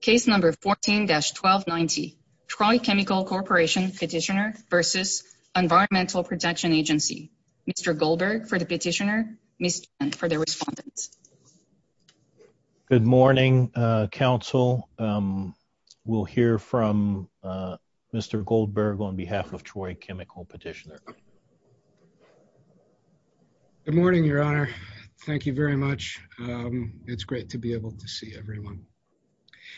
Case number 14-1290, Troy Chemical Corporation Petitioner v. Environmental Protection Agency. Mr. Goldberg for the petitioner, Ms. Chen for the respondent. Good morning, counsel. We'll hear from Mr. Goldberg on behalf of Troy Chemical Petitioner. Good morning, your honor. Thank you very much. It's great to be able to see everyone.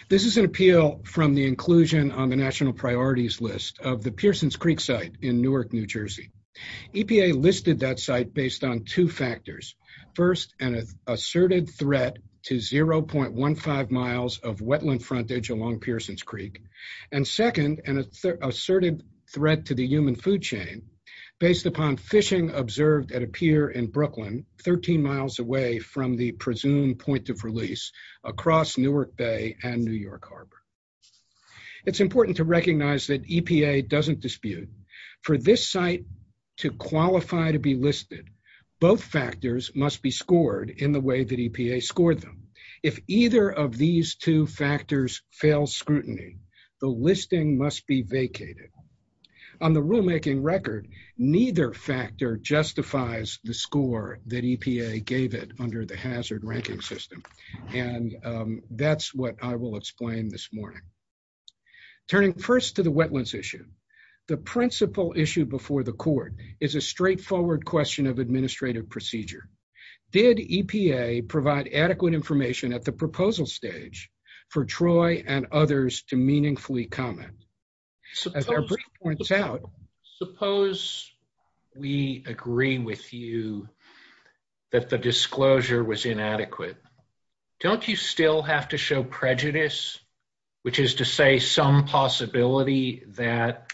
This is an appeal from the inclusion on the national priorities list of the Pearsons Creek site in Newark, New Jersey. EPA listed that site based on two factors. First, an asserted threat to 0.15 miles of wetland frontage along Pearsons Creek. And second, an asserted threat to the human food chain based upon fishing observed at a pier in Brooklyn, 13 miles away from the presumed point of release across Newark Bay and New York Harbor. It's important to recognize that EPA doesn't dispute. For this site to qualify to be listed, both factors must be scored in the way that EPA scored them. If either of these two factors fails scrutiny, the listing must be vacated. On the rulemaking record, neither factor justifies the score that EPA gave it under the hazard ranking system. And that's what I will explain this morning. Turning first to the wetlands issue, the principal issue before the court is a straightforward question of administrative procedure. Did EPA provide adequate information at the proposal stage for Troy and others to meaningfully comment? Suppose we agree with you that the disclosure was inadequate. Don't you still have to show prejudice, which is to say some possibility that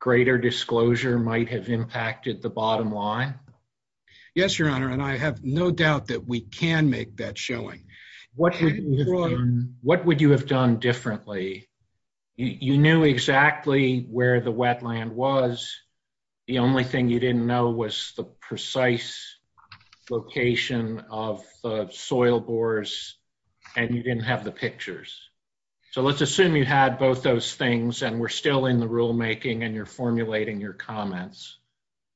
greater disclosure might have impacted the bottom line? Yes, Your Honor, and I have no doubt that we can make that showing. What would you have done differently? You knew exactly where the wetland was. The only thing you didn't know was the precise location of the soil bores and you didn't have the pictures. So let's assume you had both those things and we're still in the rulemaking and you're formulating your comments.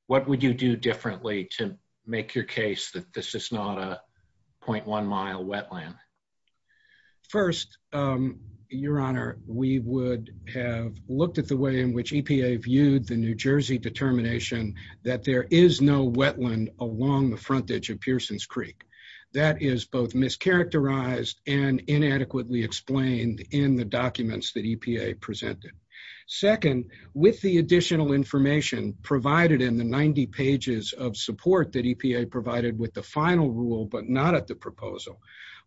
What would you do differently to make your case that this is not a 0.1 mile wetland? First, Your Honor, we would have looked at the way in which EPA viewed the New Jersey determination that there is no wetland along the frontage of Pearsons Creek. That is both mischaracterized and inadequately explained in the documents that EPA presented. Second, with the additional information provided in the 90 pages of support that EPA provided with the final rule but not at the proposal,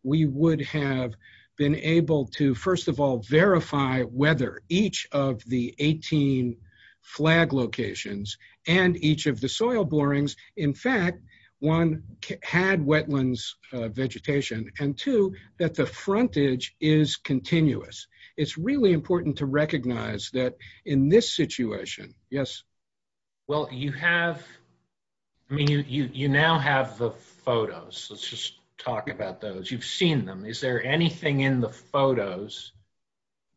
we would have been able to, first of all, verify whether each of the 18 flag locations and each of the soil borings, in fact, one, had wetlands vegetation and two, that the frontage is continuous. It's really important to recognize that in this situation. Yes. Well, you have, I mean, you now have the photos. Let's just talk about those. You've seen them. Is there anything in the photos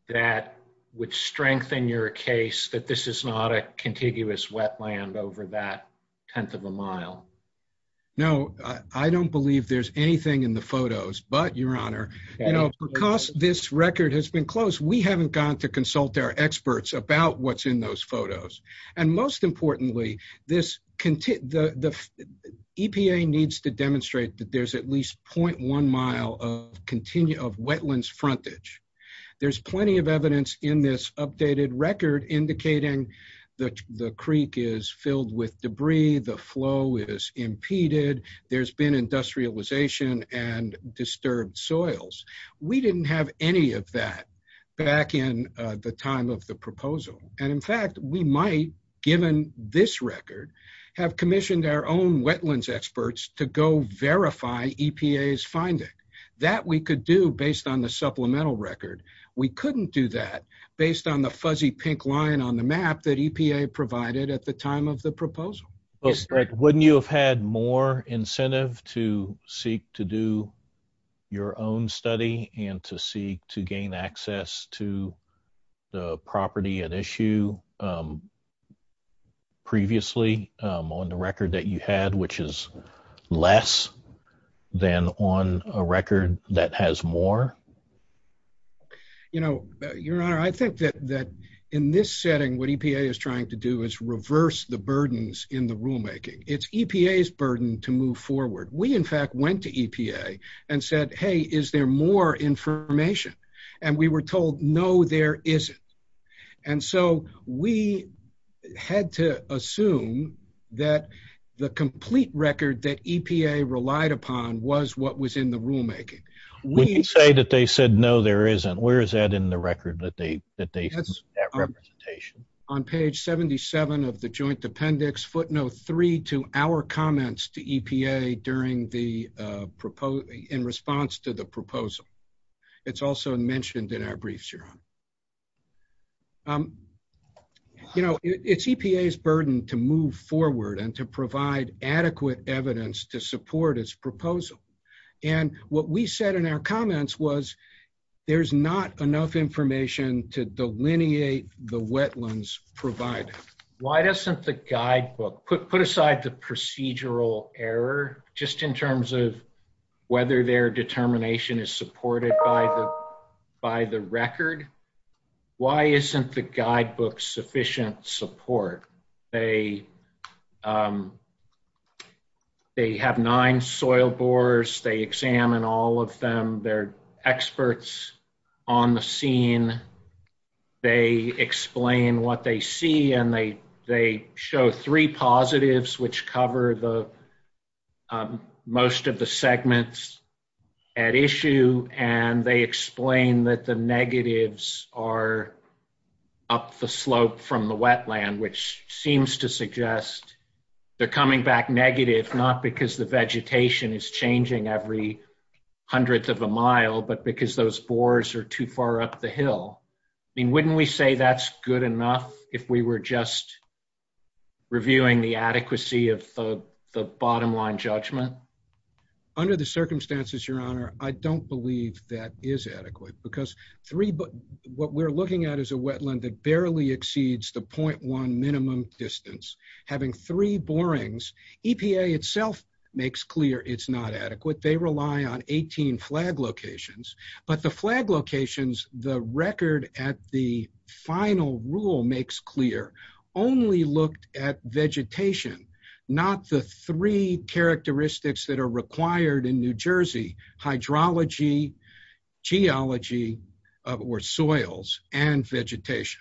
that would strengthen your case that this is not a contiguous wetland over that tenth of a mile? No, I don't believe there's anything in the photos but, Your Honor, you know, because this record has been closed, we haven't gone to consult our what's in those photos. And most importantly, the EPA needs to demonstrate that there's at least 0.1 mile of wetlands frontage. There's plenty of evidence in this updated record indicating that the creek is filled with debris, the flow is impeded, there's been industrialization and disturbed soils. We didn't have any of that back in the time of the proposal and, in fact, we might, given this record, have commissioned our own wetlands experts to go verify EPA's finding. That we could do based on the supplemental record. We couldn't do that based on the fuzzy pink line on the map that EPA provided at the time of the proposal. Yes, correct. Wouldn't you have had more incentive to seek to do your own study and to seek to gain access to the property at issue previously on the record that you had, which is less than on a record that has more? You know, Your Honor, I think that in this setting what EPA is trying to do is reverse the burdens in the rulemaking. It's EPA's burden to move forward. We, in fact, went to EPA and said, hey, is there more information? And we were told, no, there isn't. And so we had to assume that the complete record that EPA relied upon was what was in the rulemaking. When you say that they said, no, there isn't, where is that in the record that they, that they have that representation? On page 77 of the joint appendix, footnote three to our it's also mentioned in our briefs, Your Honor. You know, it's EPA's burden to move forward and to provide adequate evidence to support its proposal. And what we said in our comments was there's not enough information to delineate the wetlands provided. Why doesn't the guidebook put aside the procedural error just in terms of whether their determination is supported by the record? Why isn't the guidebook sufficient support? They have nine soil borers, they examine all of them, they're experts on the scene, they explain what they see, and they show three positives which cover the most of the segments at issue, and they explain that the negatives are up the slope from the wetland, which seems to suggest they're coming back negative not because the vegetation is changing every hundredth of a mile, but because those borers are too far up the hill. I mean, wouldn't we say that's good enough if we were just reviewing the adequacy of the bottom line judgment? Under the circumstances, Your Honor, I don't believe that is adequate because what we're looking at is a wetland that barely exceeds the point one minimum distance. Having three borings, EPA itself makes clear it's not adequate. They rely on 18 flag locations, but the flag locations the record at the final rule makes clear only looked at vegetation, not the three characteristics that are required in New Jersey, hydrology, geology, or soils, and vegetation.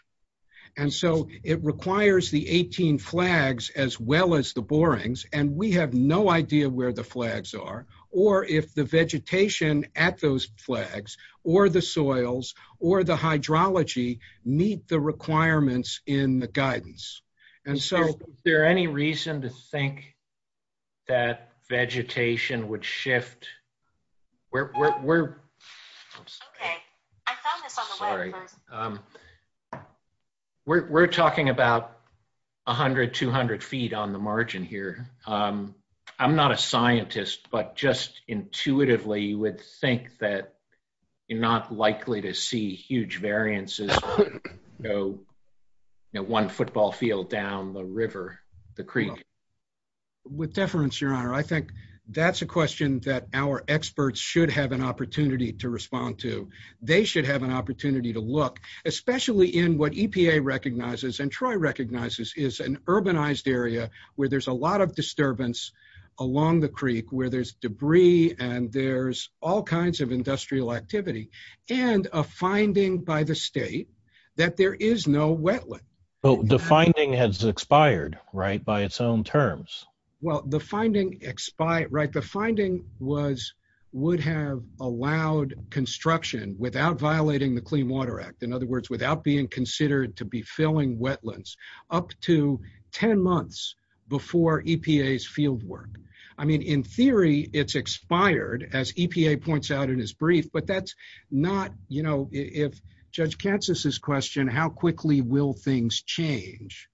And so it requires the 18 flags as well as the borings, and we have no idea where the flags are, or if the vegetation at those flags, or the soils, or the hydrology meet the requirements in the guidance. And so... Is there any reason to think that vegetation would shift? We're talking about a hundred, two hundred feet on the margin here. I'm not a scientist, but just intuitively you would think that you're not likely to see huge variances, you know, one football field down the river, the creek. With deference, Your Honor, I think that's a question that our experts should have an opportunity to respond to. They should have an opportunity to look, especially in what EPA recognizes, and Troy recognizes, is an urbanized area where there's a lot of disturbance along the creek, where there's debris, and there's all kinds of industrial activity, and a finding by the state that there is no wetland. But the finding has expired, right, by its own terms? Well, the finding expired, right, the finding was, would have allowed construction without violating the Clean Water Act, in other words, without being considered to be filling wetlands, up to 10 months before EPA's field work. I mean, in theory, it's expired, as EPA points out in this brief, but that's not, you know, if Judge Katsas' question, how quickly will things change?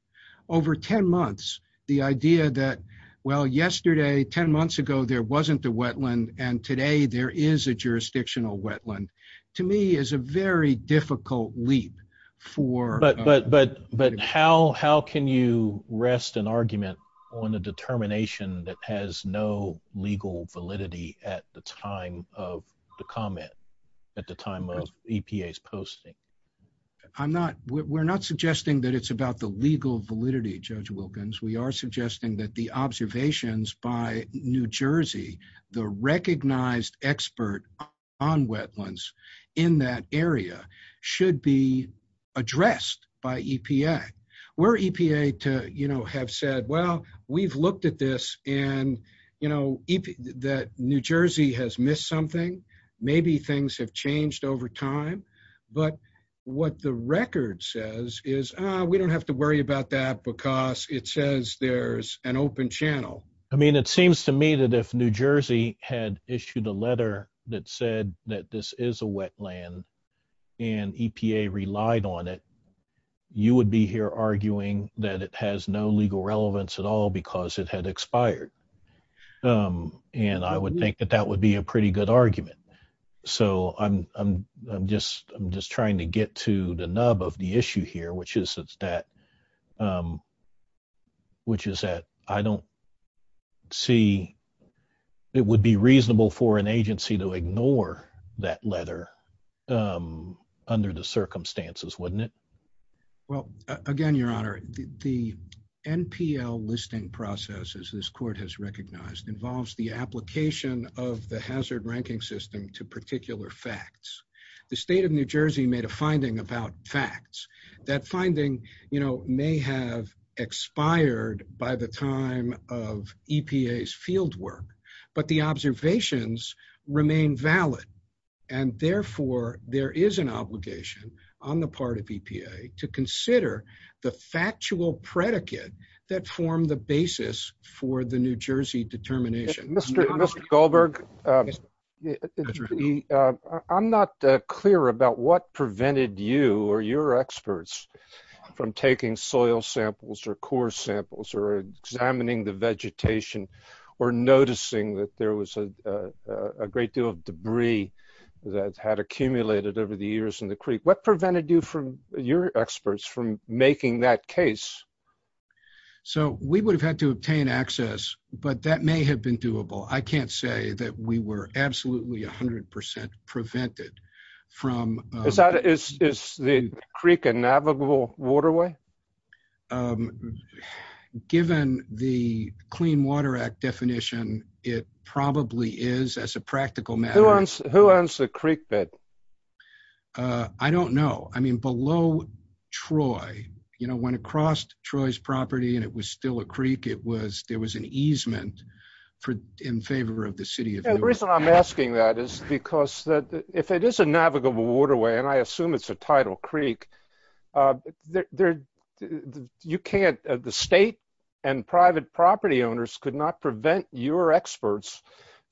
Over 10 months, the idea that, well, yesterday, 10 months ago, there wasn't a wetland, and today there is a jurisdictional wetland, to me, is a very difficult leap for- But how can you rest an argument on a determination that has no legal validity at the time of the comment, at the time of EPA's posting? I'm not, we're not suggesting that it's about the legal validity, Judge Wilkins, we are suggesting that the observations by New Jersey, the recognized expert on wetlands in that area should be addressed by EPA. Were EPA to, you know, have said, well, we've looked at this, and, you know, that New Jersey has missed something, maybe things have changed over time, but what the record says is, ah, we don't have to worry about that, because it says there's an open channel. I mean, it seems to me that if New Jersey had issued a letter that said that this is a wetland, and EPA relied on it, you would be here arguing that it has no legal relevance at all, because it had expired. And I would think that that would be a pretty good argument. So, I'm just, I'm just trying to get to the nub of the issue here, which is that, which is that I don't see, it would be reasonable for an agency to ignore that letter under the circumstances, wouldn't it? Well, again, Your Honor, the NPL listing process, as this court has recognized, involves the application of the hazard ranking system to particular facts. The state of New Jersey made a finding about facts. That finding, you know, may have expired by the time of EPA's to consider the factual predicate that formed the basis for the New Jersey determination. Mr. Goldberg, I'm not clear about what prevented you or your experts from taking soil samples, or core samples, or examining the vegetation, or noticing that there was a great deal of debris that had accumulated over the years in the creek. What prevented you from, your experts, from making that case? So, we would have had to obtain access, but that may have been doable. I can't say that we were absolutely 100% prevented from... Is the creek a navigable waterway? Given the Clean Water Act definition, it probably is as a practical matter. Who owns the creek bed? I don't know. I mean, below Troy, you know, when it crossed Troy's property and it was still a creek, there was an easement in favor of the city of Newark. The reason I'm asking that is because, if it is a navigable waterway, and I assume it's a tidal creek, the state and private property owners could not prevent your experts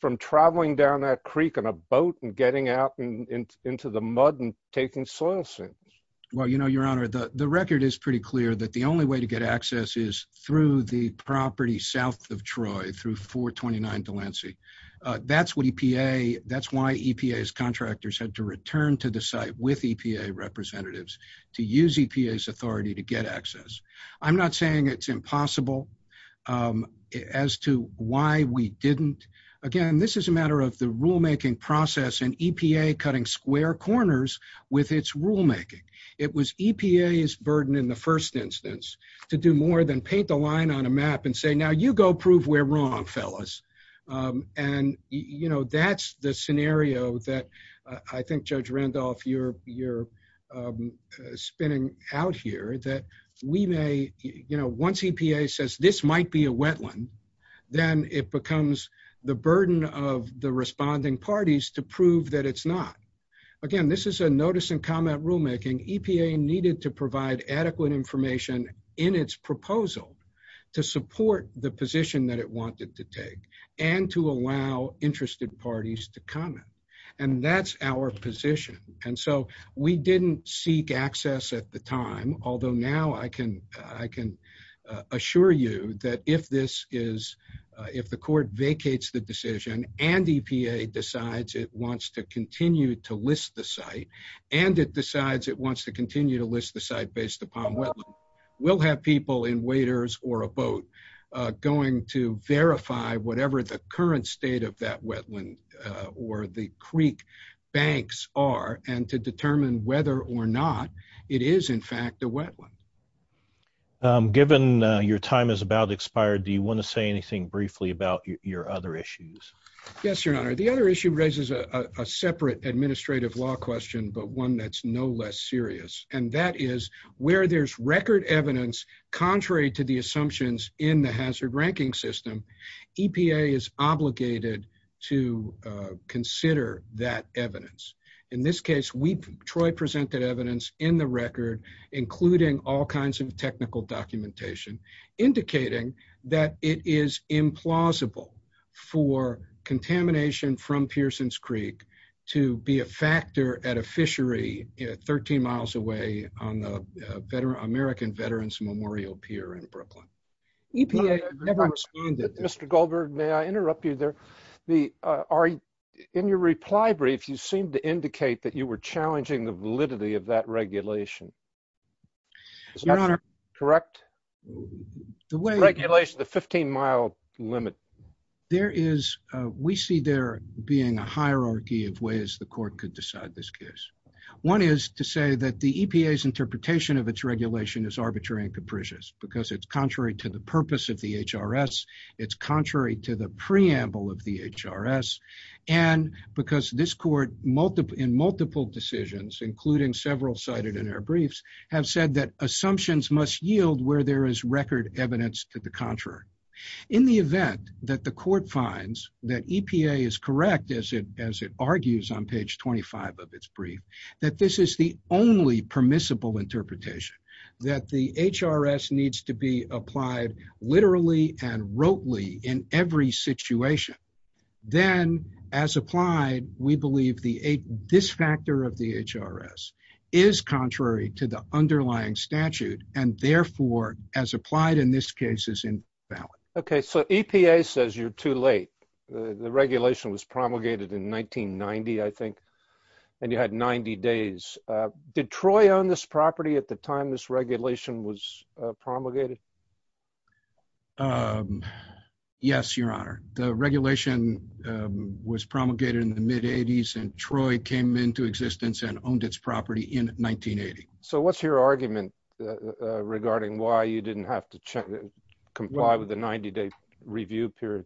from traveling down that creek in a boat and getting out into the mud and taking soil samples. Well, you know, your honor, the record is pretty clear that the only way to get access is through the property south of Troy, through 429 Delancey. That's why EPA's contractors had to return to the site with EPA representatives to use EPA's authority to get access. I'm not saying it's impossible as to why we didn't. Again, this is a matter of the rulemaking process and EPA cutting square corners with its rulemaking. It was EPA's burden in the first instance to do more than paint the line on a map and say, now you go prove we're wrong, fellas. And, you know, that's the scenario that I think, Judge Randolph, you're spinning out here, that we may, you know, once EPA says this might be a wetland, then it becomes the burden of the responding parties to prove that it's not. Again, this is a notice and comment rulemaking. EPA needed to provide adequate information in its proposal to support the position that it wanted to take and to allow interested parties to comment. And that's our position. And so we didn't seek access at the time, although now I can assure you that if this is, if the court vacates the decision and EPA decides it wants to continue to list the site and it decides it wants to continue to list the site based upon wetland, we'll have people in waders or a boat going to verify whatever the current state of that wetland or the creek banks are and to determine whether or not it is in fact a wetland. Given your time is about to expire, do you want to say anything briefly about your other issues? Yes, your honor. The other issue raises a separate administrative law question, but one that's no less serious. And that is where there's record evidence, contrary to the assumptions in the hazard ranking system, EPA is obligated to consider that evidence. In this case, Troy presented evidence in the record, including all kinds of technical documentation indicating that it is implausible for contamination from Pearsons Creek to be a factor at a fishery 13 miles away on the American Veterans Memorial Pier in Brooklyn. EPA never responded. Mr. Goldberg, may I interrupt you there? In your reply brief, you seemed to indicate that you were challenging the validity of that regulation. Correct? The regulation, the 15 mile limit. We see there being a hierarchy of ways the court could decide this case. One is to say that the EPA's interpretation of its regulation is contrary to the purpose of the HRS. It's contrary to the preamble of the HRS. And because this court in multiple decisions, including several cited in our briefs, have said that assumptions must yield where there is record evidence to the contrary. In the event that the court finds that EPA is correct, as it argues on page 25 of its brief, that this is the only permissible interpretation, that the HRS needs to be applied literally and wrotely in every situation, then as applied, we believe this factor of the HRS is contrary to the underlying statute and therefore, as applied in this case, is invalid. Okay. So EPA says you're too late. The regulation was promulgated in 1990, I think, and you had 90 days. Did Troy own this property at the time this regulation was promulgated? Yes, your honor. The regulation was promulgated in the mid 80s and Troy came into existence and owned its property in 1980. So what's your argument regarding why you didn't have to comply with the 90 day review period?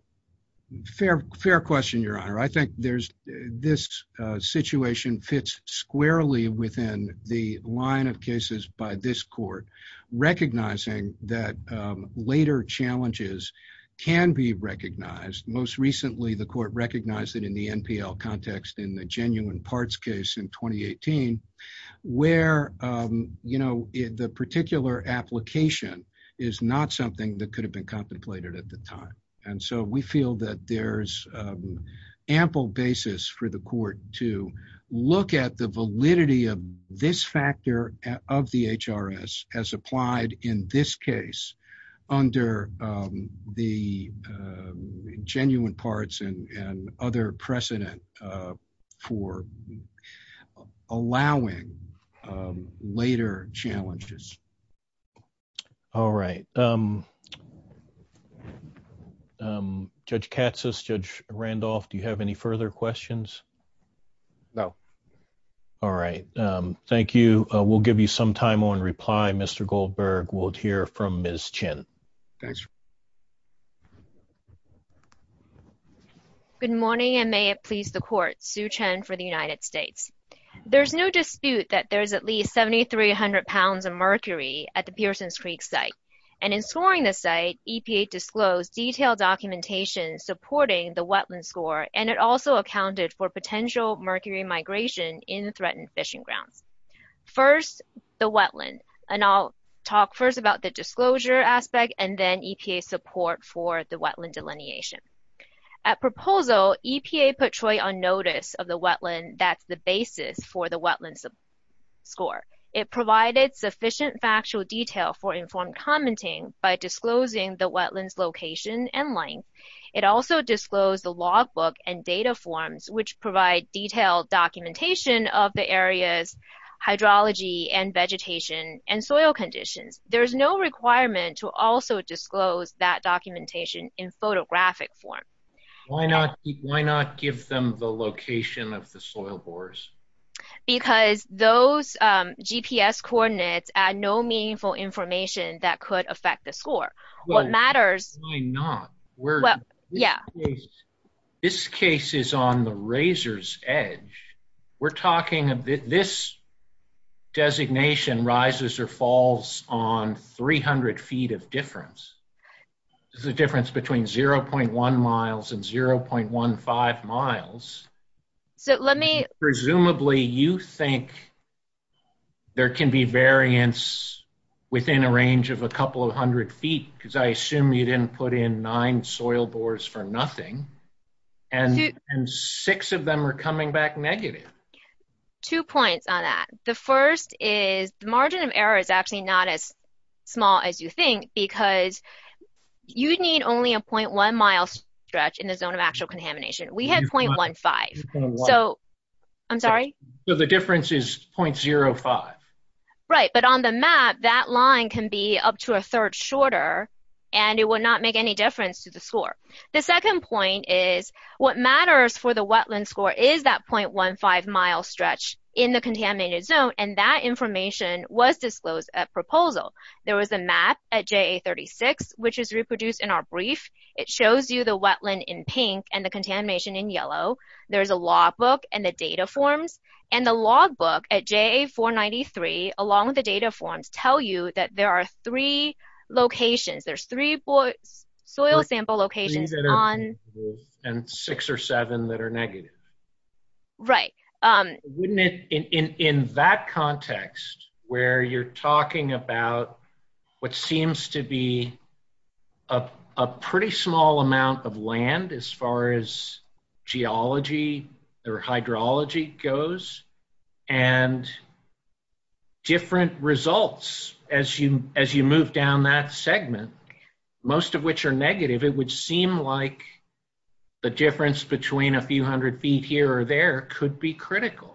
Fair question, your honor. I think there's this situation fits squarely within the line of cases by this court, recognizing that later challenges can be recognized. Most recently, the court recognized it in the NPL context in the is not something that could have been contemplated at the time. And so we feel that there's ample basis for the court to look at the validity of this factor of the HRS as applied in this case under the genuine parts and other precedent for allowing later challenges. All right. Judge Katsas, Judge Randolph, do you have any further questions? No. All right. Thank you. We'll give you some time on reply. Mr. Goldberg will hear from Ms. Chen. Thanks. Good morning, and may it please the court. Sue Chen for the United States. There's no dispute that there's at least 7,300 pounds of mercury at the Pearsons Creek site. And in scoring the site, EPA disclosed detailed documentation supporting the wetland score, and it also accounted for potential mercury migration in threatened fishing grounds. First, the wetland. And I'll talk first about the disclosure aspect and then EPA support for the wetland delineation. At proposal, EPA put Troy on notice of the wetland that's the basis for the wetland score. It provided sufficient factual detail for informed commenting by disclosing the wetland's location and length. It also disclosed the logbook and data forms, which provide detailed documentation of the area's hydrology and vegetation and soil conditions. There's no requirement to also disclose that documentation in photographic form. Why not give them the location of the soil bores? Because those GPS coordinates add no meaningful information that could affect the score. What matters... Why not? This case is on the razor's edge. We're talking about this designation rises or falls on 300 feet of difference. There's a difference between 0.1 miles and 0.15 miles. So let me... Presumably you think there can be variance within a range of a couple of hundred feet, because I assume you didn't put in nine soil bores for nothing, and six of them are coming back negative. Two points on that. The first is the margin of error is actually not as small as you think, because you need only a 0.1 mile stretch in the zone of actual contamination. We have 0.15. So I'm sorry? The difference is 0.05. Right, but on the map, that line can be up to a third shorter, and it will not make any difference to the score. The second point is what matters for the wetland score is that 0.15 mile stretch in the contaminated zone, and that information was disclosed at proposal. There was a map at JA 36, which is reproduced in our brief. It shows you the wetland in pink and the contamination in yellow. There's a logbook and the data forms, and the logbook at JA 493, along with the data forms, tell you that there are three locations. There's three soil sample locations on... And six or seven that are negative. Right. Wouldn't it, in that context, where you're talking about what seems to be a pretty small amount of land, as far as geology or hydrology goes, and different results as you move down that segment, most of which are negative, it would seem like the difference between a few hundred feet here or there could be critical.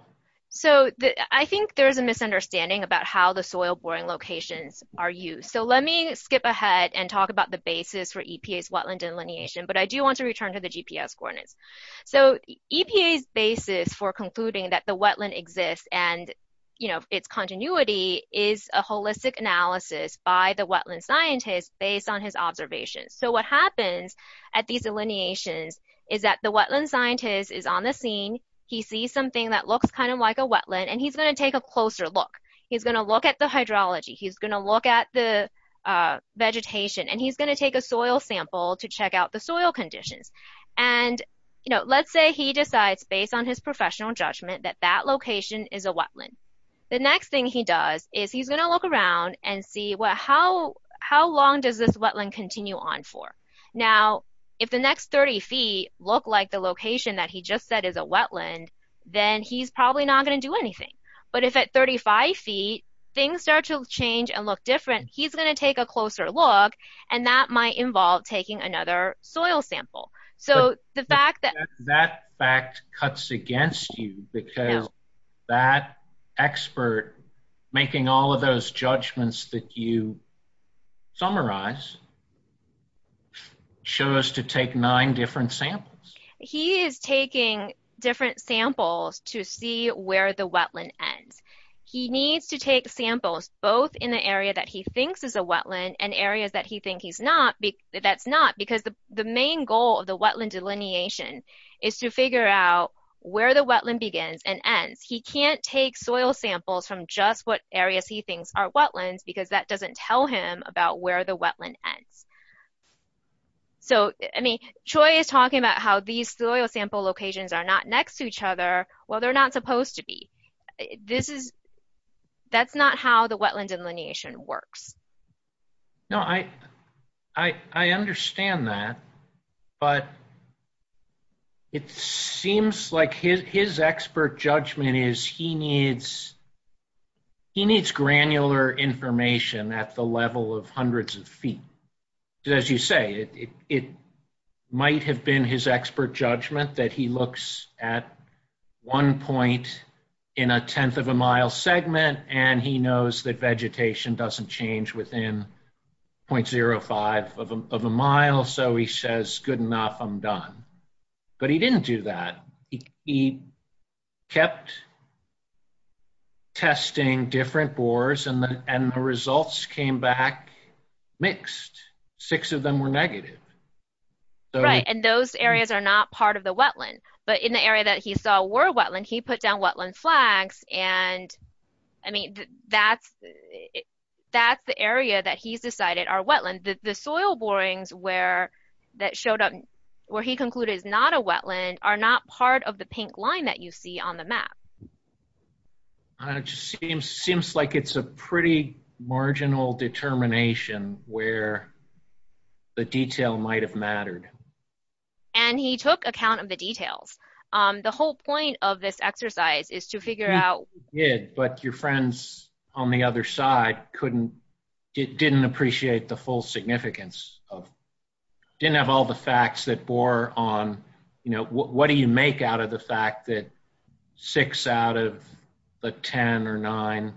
So, I think there's a misunderstanding about how the soil boring locations are used. So, let me skip ahead and talk about the basis for EPA's wetland delineation, but I do want to return to the GPS coordinates. So, EPA's basis for concluding that the wetland exists and, you know, its continuity is a holistic is that the wetland scientist is on the scene. He sees something that looks kind of like a wetland, and he's going to take a closer look. He's going to look at the hydrology. He's going to look at the vegetation, and he's going to take a soil sample to check out the soil conditions. And, you know, let's say he decides, based on his professional judgment, that that location is a wetland. The next thing he does is he's going to look around and see how long does this 30 feet look like the location that he just said is a wetland, then he's probably not going to do anything. But, if at 35 feet, things start to change and look different, he's going to take a closer look, and that might involve taking another soil sample. So, the fact that... That fact cuts against you because that expert making all of those judgments that you samples. He is taking different samples to see where the wetland ends. He needs to take samples, both in the area that he thinks is a wetland and areas that he thinks he's not. That's not because the main goal of the wetland delineation is to figure out where the wetland begins and ends. He can't take soil samples from just what areas he thinks are wetlands because that doesn't tell him about where the wetland ends. So, I mean, Troy is talking about how these soil sample locations are not next to each other. Well, they're not supposed to be. This is... That's not how the wetland delineation works. No, I understand that, but it seems like his expert judgment is he of hundreds of feet. As you say, it might have been his expert judgment that he looks at one point in a tenth of a mile segment and he knows that vegetation doesn't change within 0.05 of a mile, so he says, good enough, I'm done. But he didn't do that. He kept testing different bores and the results came back mixed. Six of them were negative. Right, and those areas are not part of the wetland, but in the area that he saw were wetland, he put down wetland flags and, I mean, that's the area that he's decided are wetland. The soil borings that showed up where he concluded is not a wetland are not part of the pink line that you on the map. Seems like it's a pretty marginal determination where the detail might have mattered. And he took account of the details. The whole point of this exercise is to figure out... Yeah, but your friends on the other side couldn't... didn't appreciate the full significance of... didn't have all the facts that bore on, you know, what do you make out of the fact that six out of the ten or nine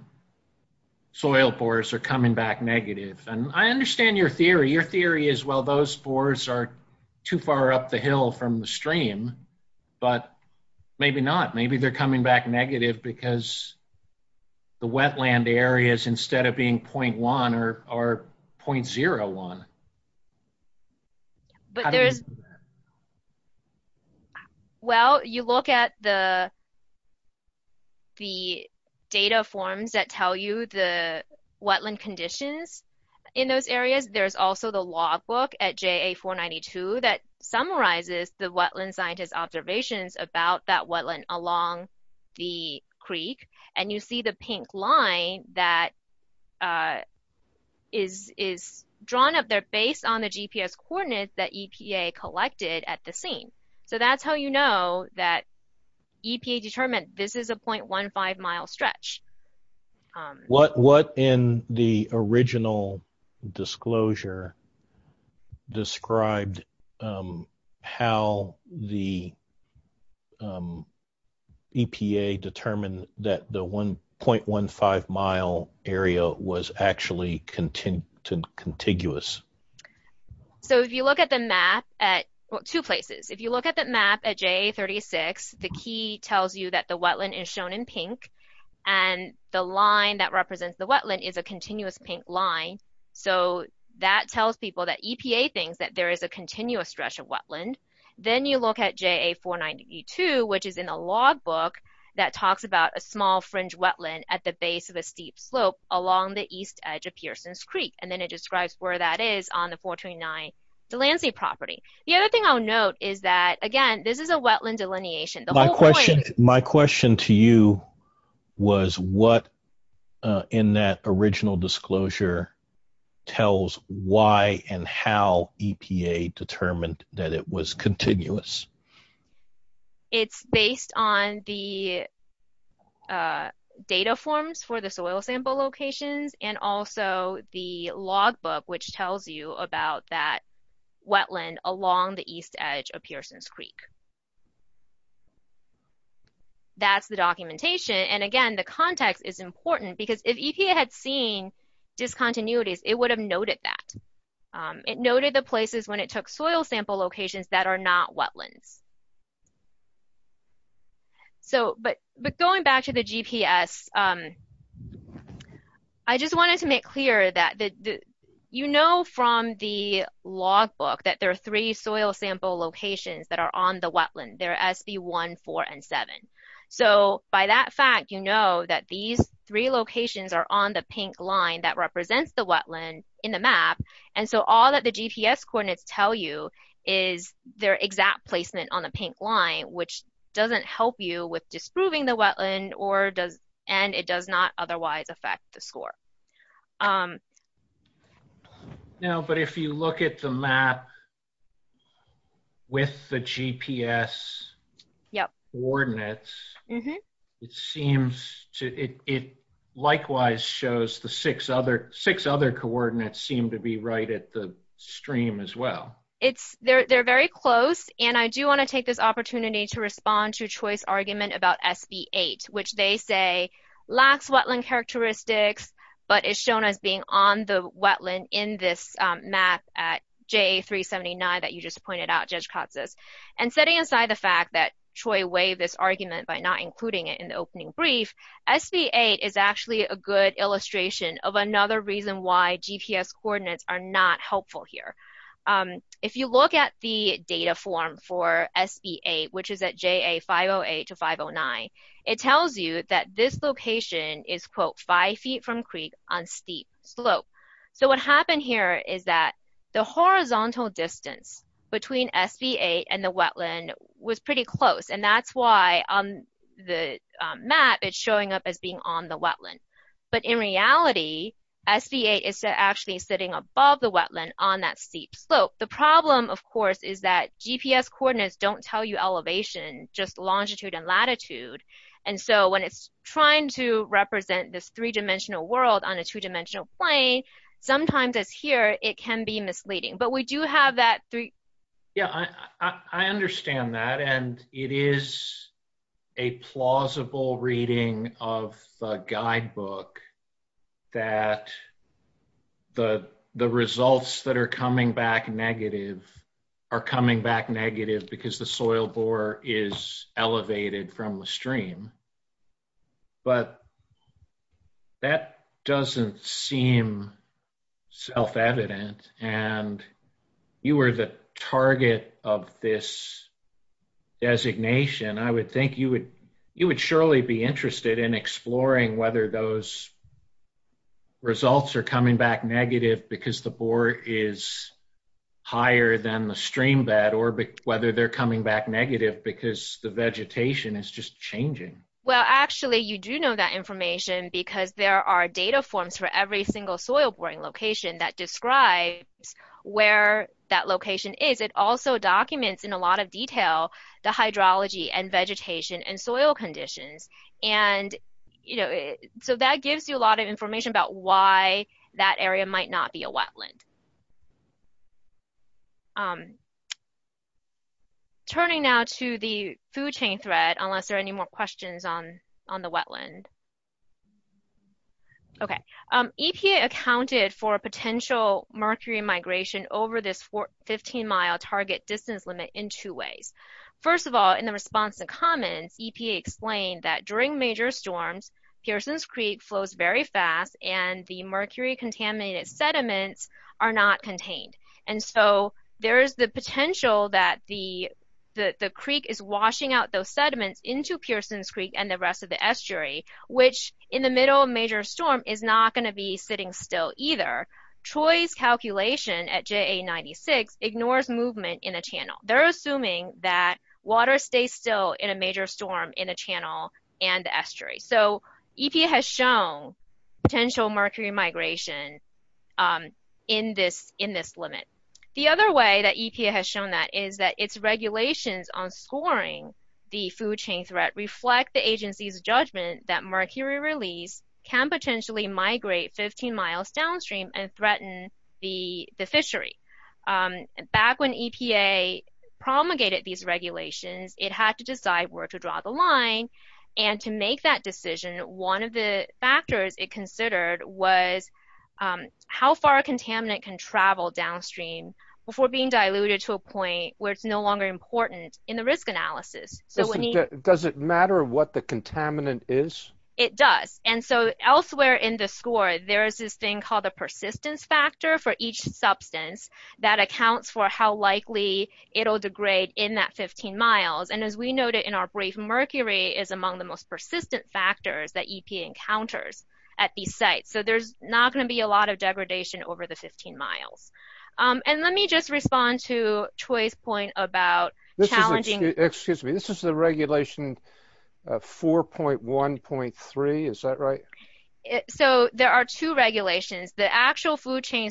soil bores are coming back negative? And I understand your theory. Your theory is, well, those spores are too far up the hill from the stream, but maybe not. Maybe they're coming back negative because the wetland areas, instead of being 0.1, are 0.01. But there's... Well, you look at the data forms that tell you the wetland conditions in those areas. There's also the logbook at JA 492 that summarizes the wetland scientist observations about that wetland along the creek. And you see the pink line that is drawn up there based on the GPS coordinates that EPA collected at the scene. So that's how you know that EPA determined this is a 0.15 mile stretch. What in the original disclosure described how the EPA determined that the 1.15 mile area was actually contiguous? So if you look at the map at two places. If you look at the map at JA 36, the key tells you that the wetland is shown in pink, and the line that represents the wetland is a continuous pink line. So that tells people that EPA thinks that there is a continuous stretch of wetland. Then you look at JA 492, which is in a logbook that talks about a small fringe wetland at the base of a steep slope along the east edge of Pearson's Creek. And then it describes where that is on the 429 Delancey property. The other thing I'll note is that, again, this is a wetland delineation. My question to you was what in that original disclosure tells why and how EPA determined that it was continuous? It's based on the data forms for the soil sample locations, and also the logbook which tells you about that wetland along the east edge of Pearson's Creek. That's the documentation. And again, the context is important because if EPA had seen discontinuities, it would have noted that. It noted the places when it took soil sample locations that are not wetlands. But going back to the GPS, I just wanted to make clear that you know from the logbook that there are three soil sample locations that are on the wetland. They're SB 1, 4, and 7. So by that fact, you know that these three locations are on the pink line that represents the wetland in the map. And so all that the GPS coordinates tell you is their exact placement on the pink line, which doesn't help you with disproving the wetland, and it does not help you with the GPS coordinates. It likewise shows the six other coordinates seem to be right at the stream as well. They're very close, and I do want to take this opportunity to respond to Choice's argument about SB 8, which they say lacks wetland characteristics, but is shown as being on the wetland in this map at JA 379 that you just pointed out, Judge Katsas. And setting aside the fact that Choice waived this argument by not including it in the opening brief, SB 8 is actually a good illustration of another reason why GPS coordinates are not helpful here. If you look at the data form for SB 8, which is at JA 508 to 509, it tells you that this location is quote five feet from creek on steep slope. So what happened here is that the horizontal distance between SB 8 and the wetland was pretty close, and that's why on the map it's showing up as being on the wetland. But in reality, SB 8 is actually sitting above the wetland on that steep slope. The problem of course is that GPS coordinates don't tell you elevation, just longitude and latitude, and so when it's trying to represent this three-dimensional world on a two-dimensional plane, sometimes it's here, it can be misleading. But we do have that three... Yeah, I understand that, and it is a plausible reading of the guidebook that the results that are coming back negative are coming back negative because the soil bore is elevated from the stream. But that doesn't seem self-evident, and you were the target of this designation. I would think you would surely be interested in exploring whether those results are coming back negative because the bore is higher than the stream bed, or whether they're coming back negative because the vegetation is just changing. Well actually, you do know that information because there are data forms for every single soil-boring location that describes where that location is. It also documents in a lot of detail the hydrology and vegetation and soil conditions, and you know, so that gives you a lot of information about why that area might not be a wetland. Turning now to the food chain thread, unless there are any more questions on the wetland. Okay, EPA accounted for potential mercury migration over this 15-mile target distance limit in two ways. First of all, in the response and comments, EPA explained that during major storms, Pearsons Creek flows very fast and the mercury-contaminated sediments are not contained, and so there is the potential that the creek is washing out those sediments into Pearsons Creek and the rest of the estuary, which in the middle of a major storm is not going to be sitting still either. Troy's calculation at JA-96 ignores movement in a channel. They're assuming that so EPA has shown potential mercury migration in this limit. The other way that EPA has shown that is that its regulations on scoring the food chain threat reflect the agency's judgment that mercury release can potentially migrate 15 miles downstream and threaten the fishery. Back when EPA promulgated these regulations, it had to decide where to draw the line and to make that decision, one of the factors it considered was how far a contaminant can travel downstream before being diluted to a point where it's no longer important in the risk analysis. Does it matter what the contaminant is? It does, and so elsewhere in the score, there is this thing called the persistence factor for each substance that accounts for how likely it'll degrade in that among the most persistent factors that EPA encounters at these sites. So there's not going to be a lot of degradation over the 15 miles. And let me just respond to Troy's point about challenging... Excuse me, this is the regulation 4.1.3, is that right? So there are two regulations. The actual food chain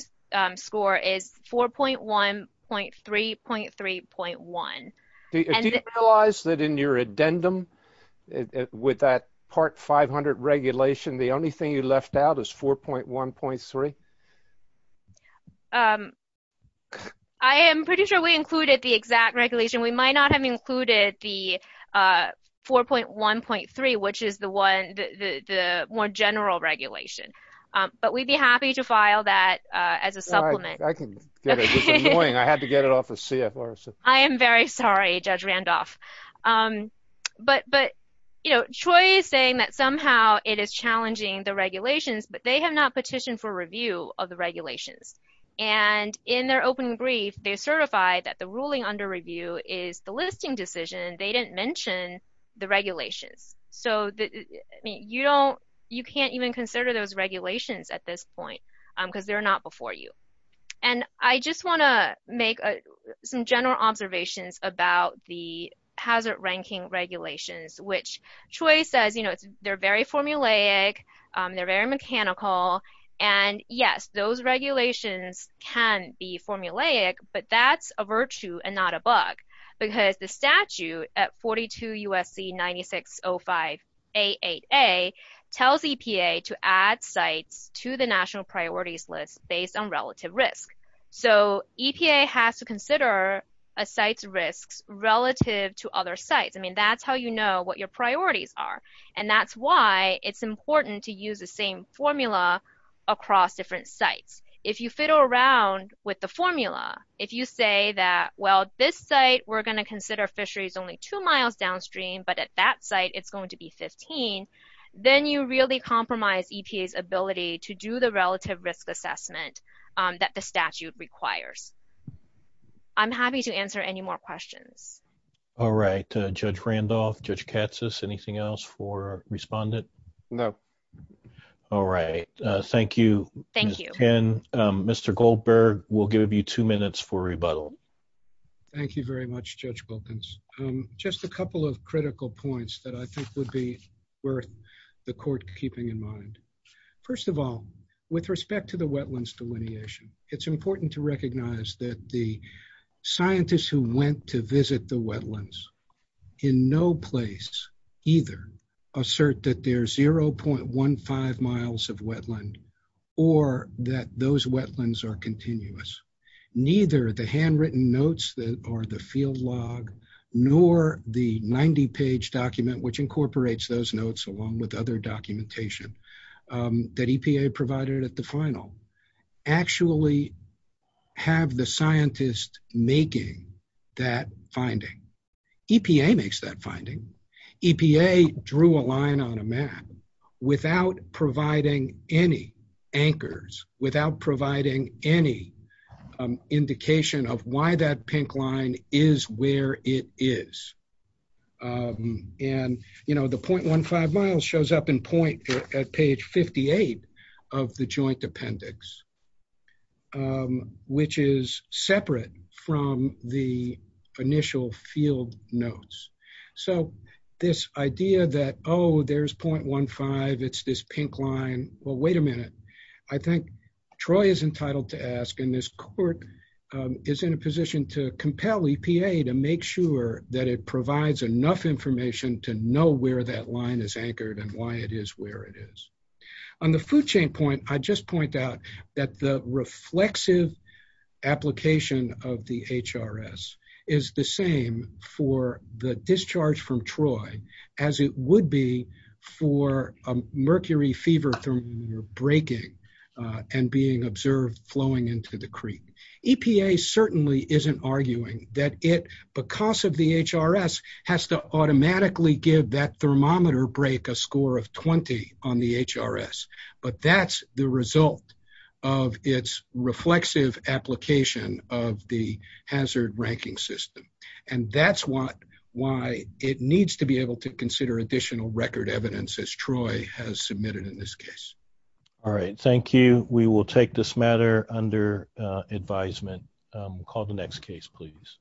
score is 4.1.3.3.1. Do you realize that in your addendum with that part 500 regulation, the only thing you left out is 4.1.3? I am pretty sure we included the exact regulation. We might not have included the 4.1.3, which is the more general regulation, but we'd be happy to file that as a supplement. I can get it. It's annoying. I had to get it off of CFR. I am very sorry, Judge Randolph. But Troy is saying that somehow it is challenging the regulations, but they have not petitioned for review of the regulations. And in their opening brief, they certify that the ruling under review is the listing decision. They didn't mention the regulations. So you can't even consider those regulations at this point because they're not for you. And I just want to make some general observations about the hazard ranking regulations, which Troy says they're very formulaic. They're very mechanical. And yes, those regulations can be formulaic, but that's a virtue and not a bug because the statute at 42 USC 9605-88A tells EPA to add sites to the national priorities list based on relative risk. So EPA has to consider a site's risks relative to other sites. I mean, that's how you know what your priorities are. And that's why it's important to use the same formula across different sites. If you fiddle around with the formula, if you say that, well, this site we're going to consider fisheries only two miles downstream, but at that site, it's going to be 15, then you really compromise EPA's ability to do the relative risk assessment that the statute requires. I'm happy to answer any more questions. All right. Judge Randolph, Judge Katsas, anything else for respondent? No. All right. Thank you. Thank you. Mr. Goldberg, we'll give you two minutes for rebuttal. Thank you very much, Judge Wilkins. Just a couple of critical points that I think would be worth the court keeping in mind. First of all, with respect to the wetlands delineation, it's important to recognize that the scientists who went to visit the wetlands in no place either assert that there's 0.15 miles of wetland or that those wetlands are continuous. Neither the handwritten notes that are the field log nor the 90 page document, which incorporates those notes along with other documentation that EPA provided at the final actually have the scientist making that finding. EPA makes that anchors without providing any indication of why that pink line is where it is. The 0.15 miles shows up in point at page 58 of the joint appendix, which is separate from the initial field notes. This idea that, oh, there's 0.15, it's this pink line. Well, wait a minute. I think Troy is entitled to ask and this court is in a position to compel EPA to make sure that it provides enough information to know where that line is anchored and why it is where it is. On the food chain point, I just point out that the reflexive application of the HRS is the same for the discharge from Troy as it would be for a mercury fever thermometer breaking and being observed flowing into the creek. EPA certainly isn't arguing that it, because of the HRS, has to automatically give that thermometer break a score of 20 on the HRS, but that's the result of its reflexive application of the hazard ranking system. And that's why it needs to be able to consider additional record evidence as Troy has submitted in this case. All right. Thank you. We will take this matter under advisement. We'll call the next case, please.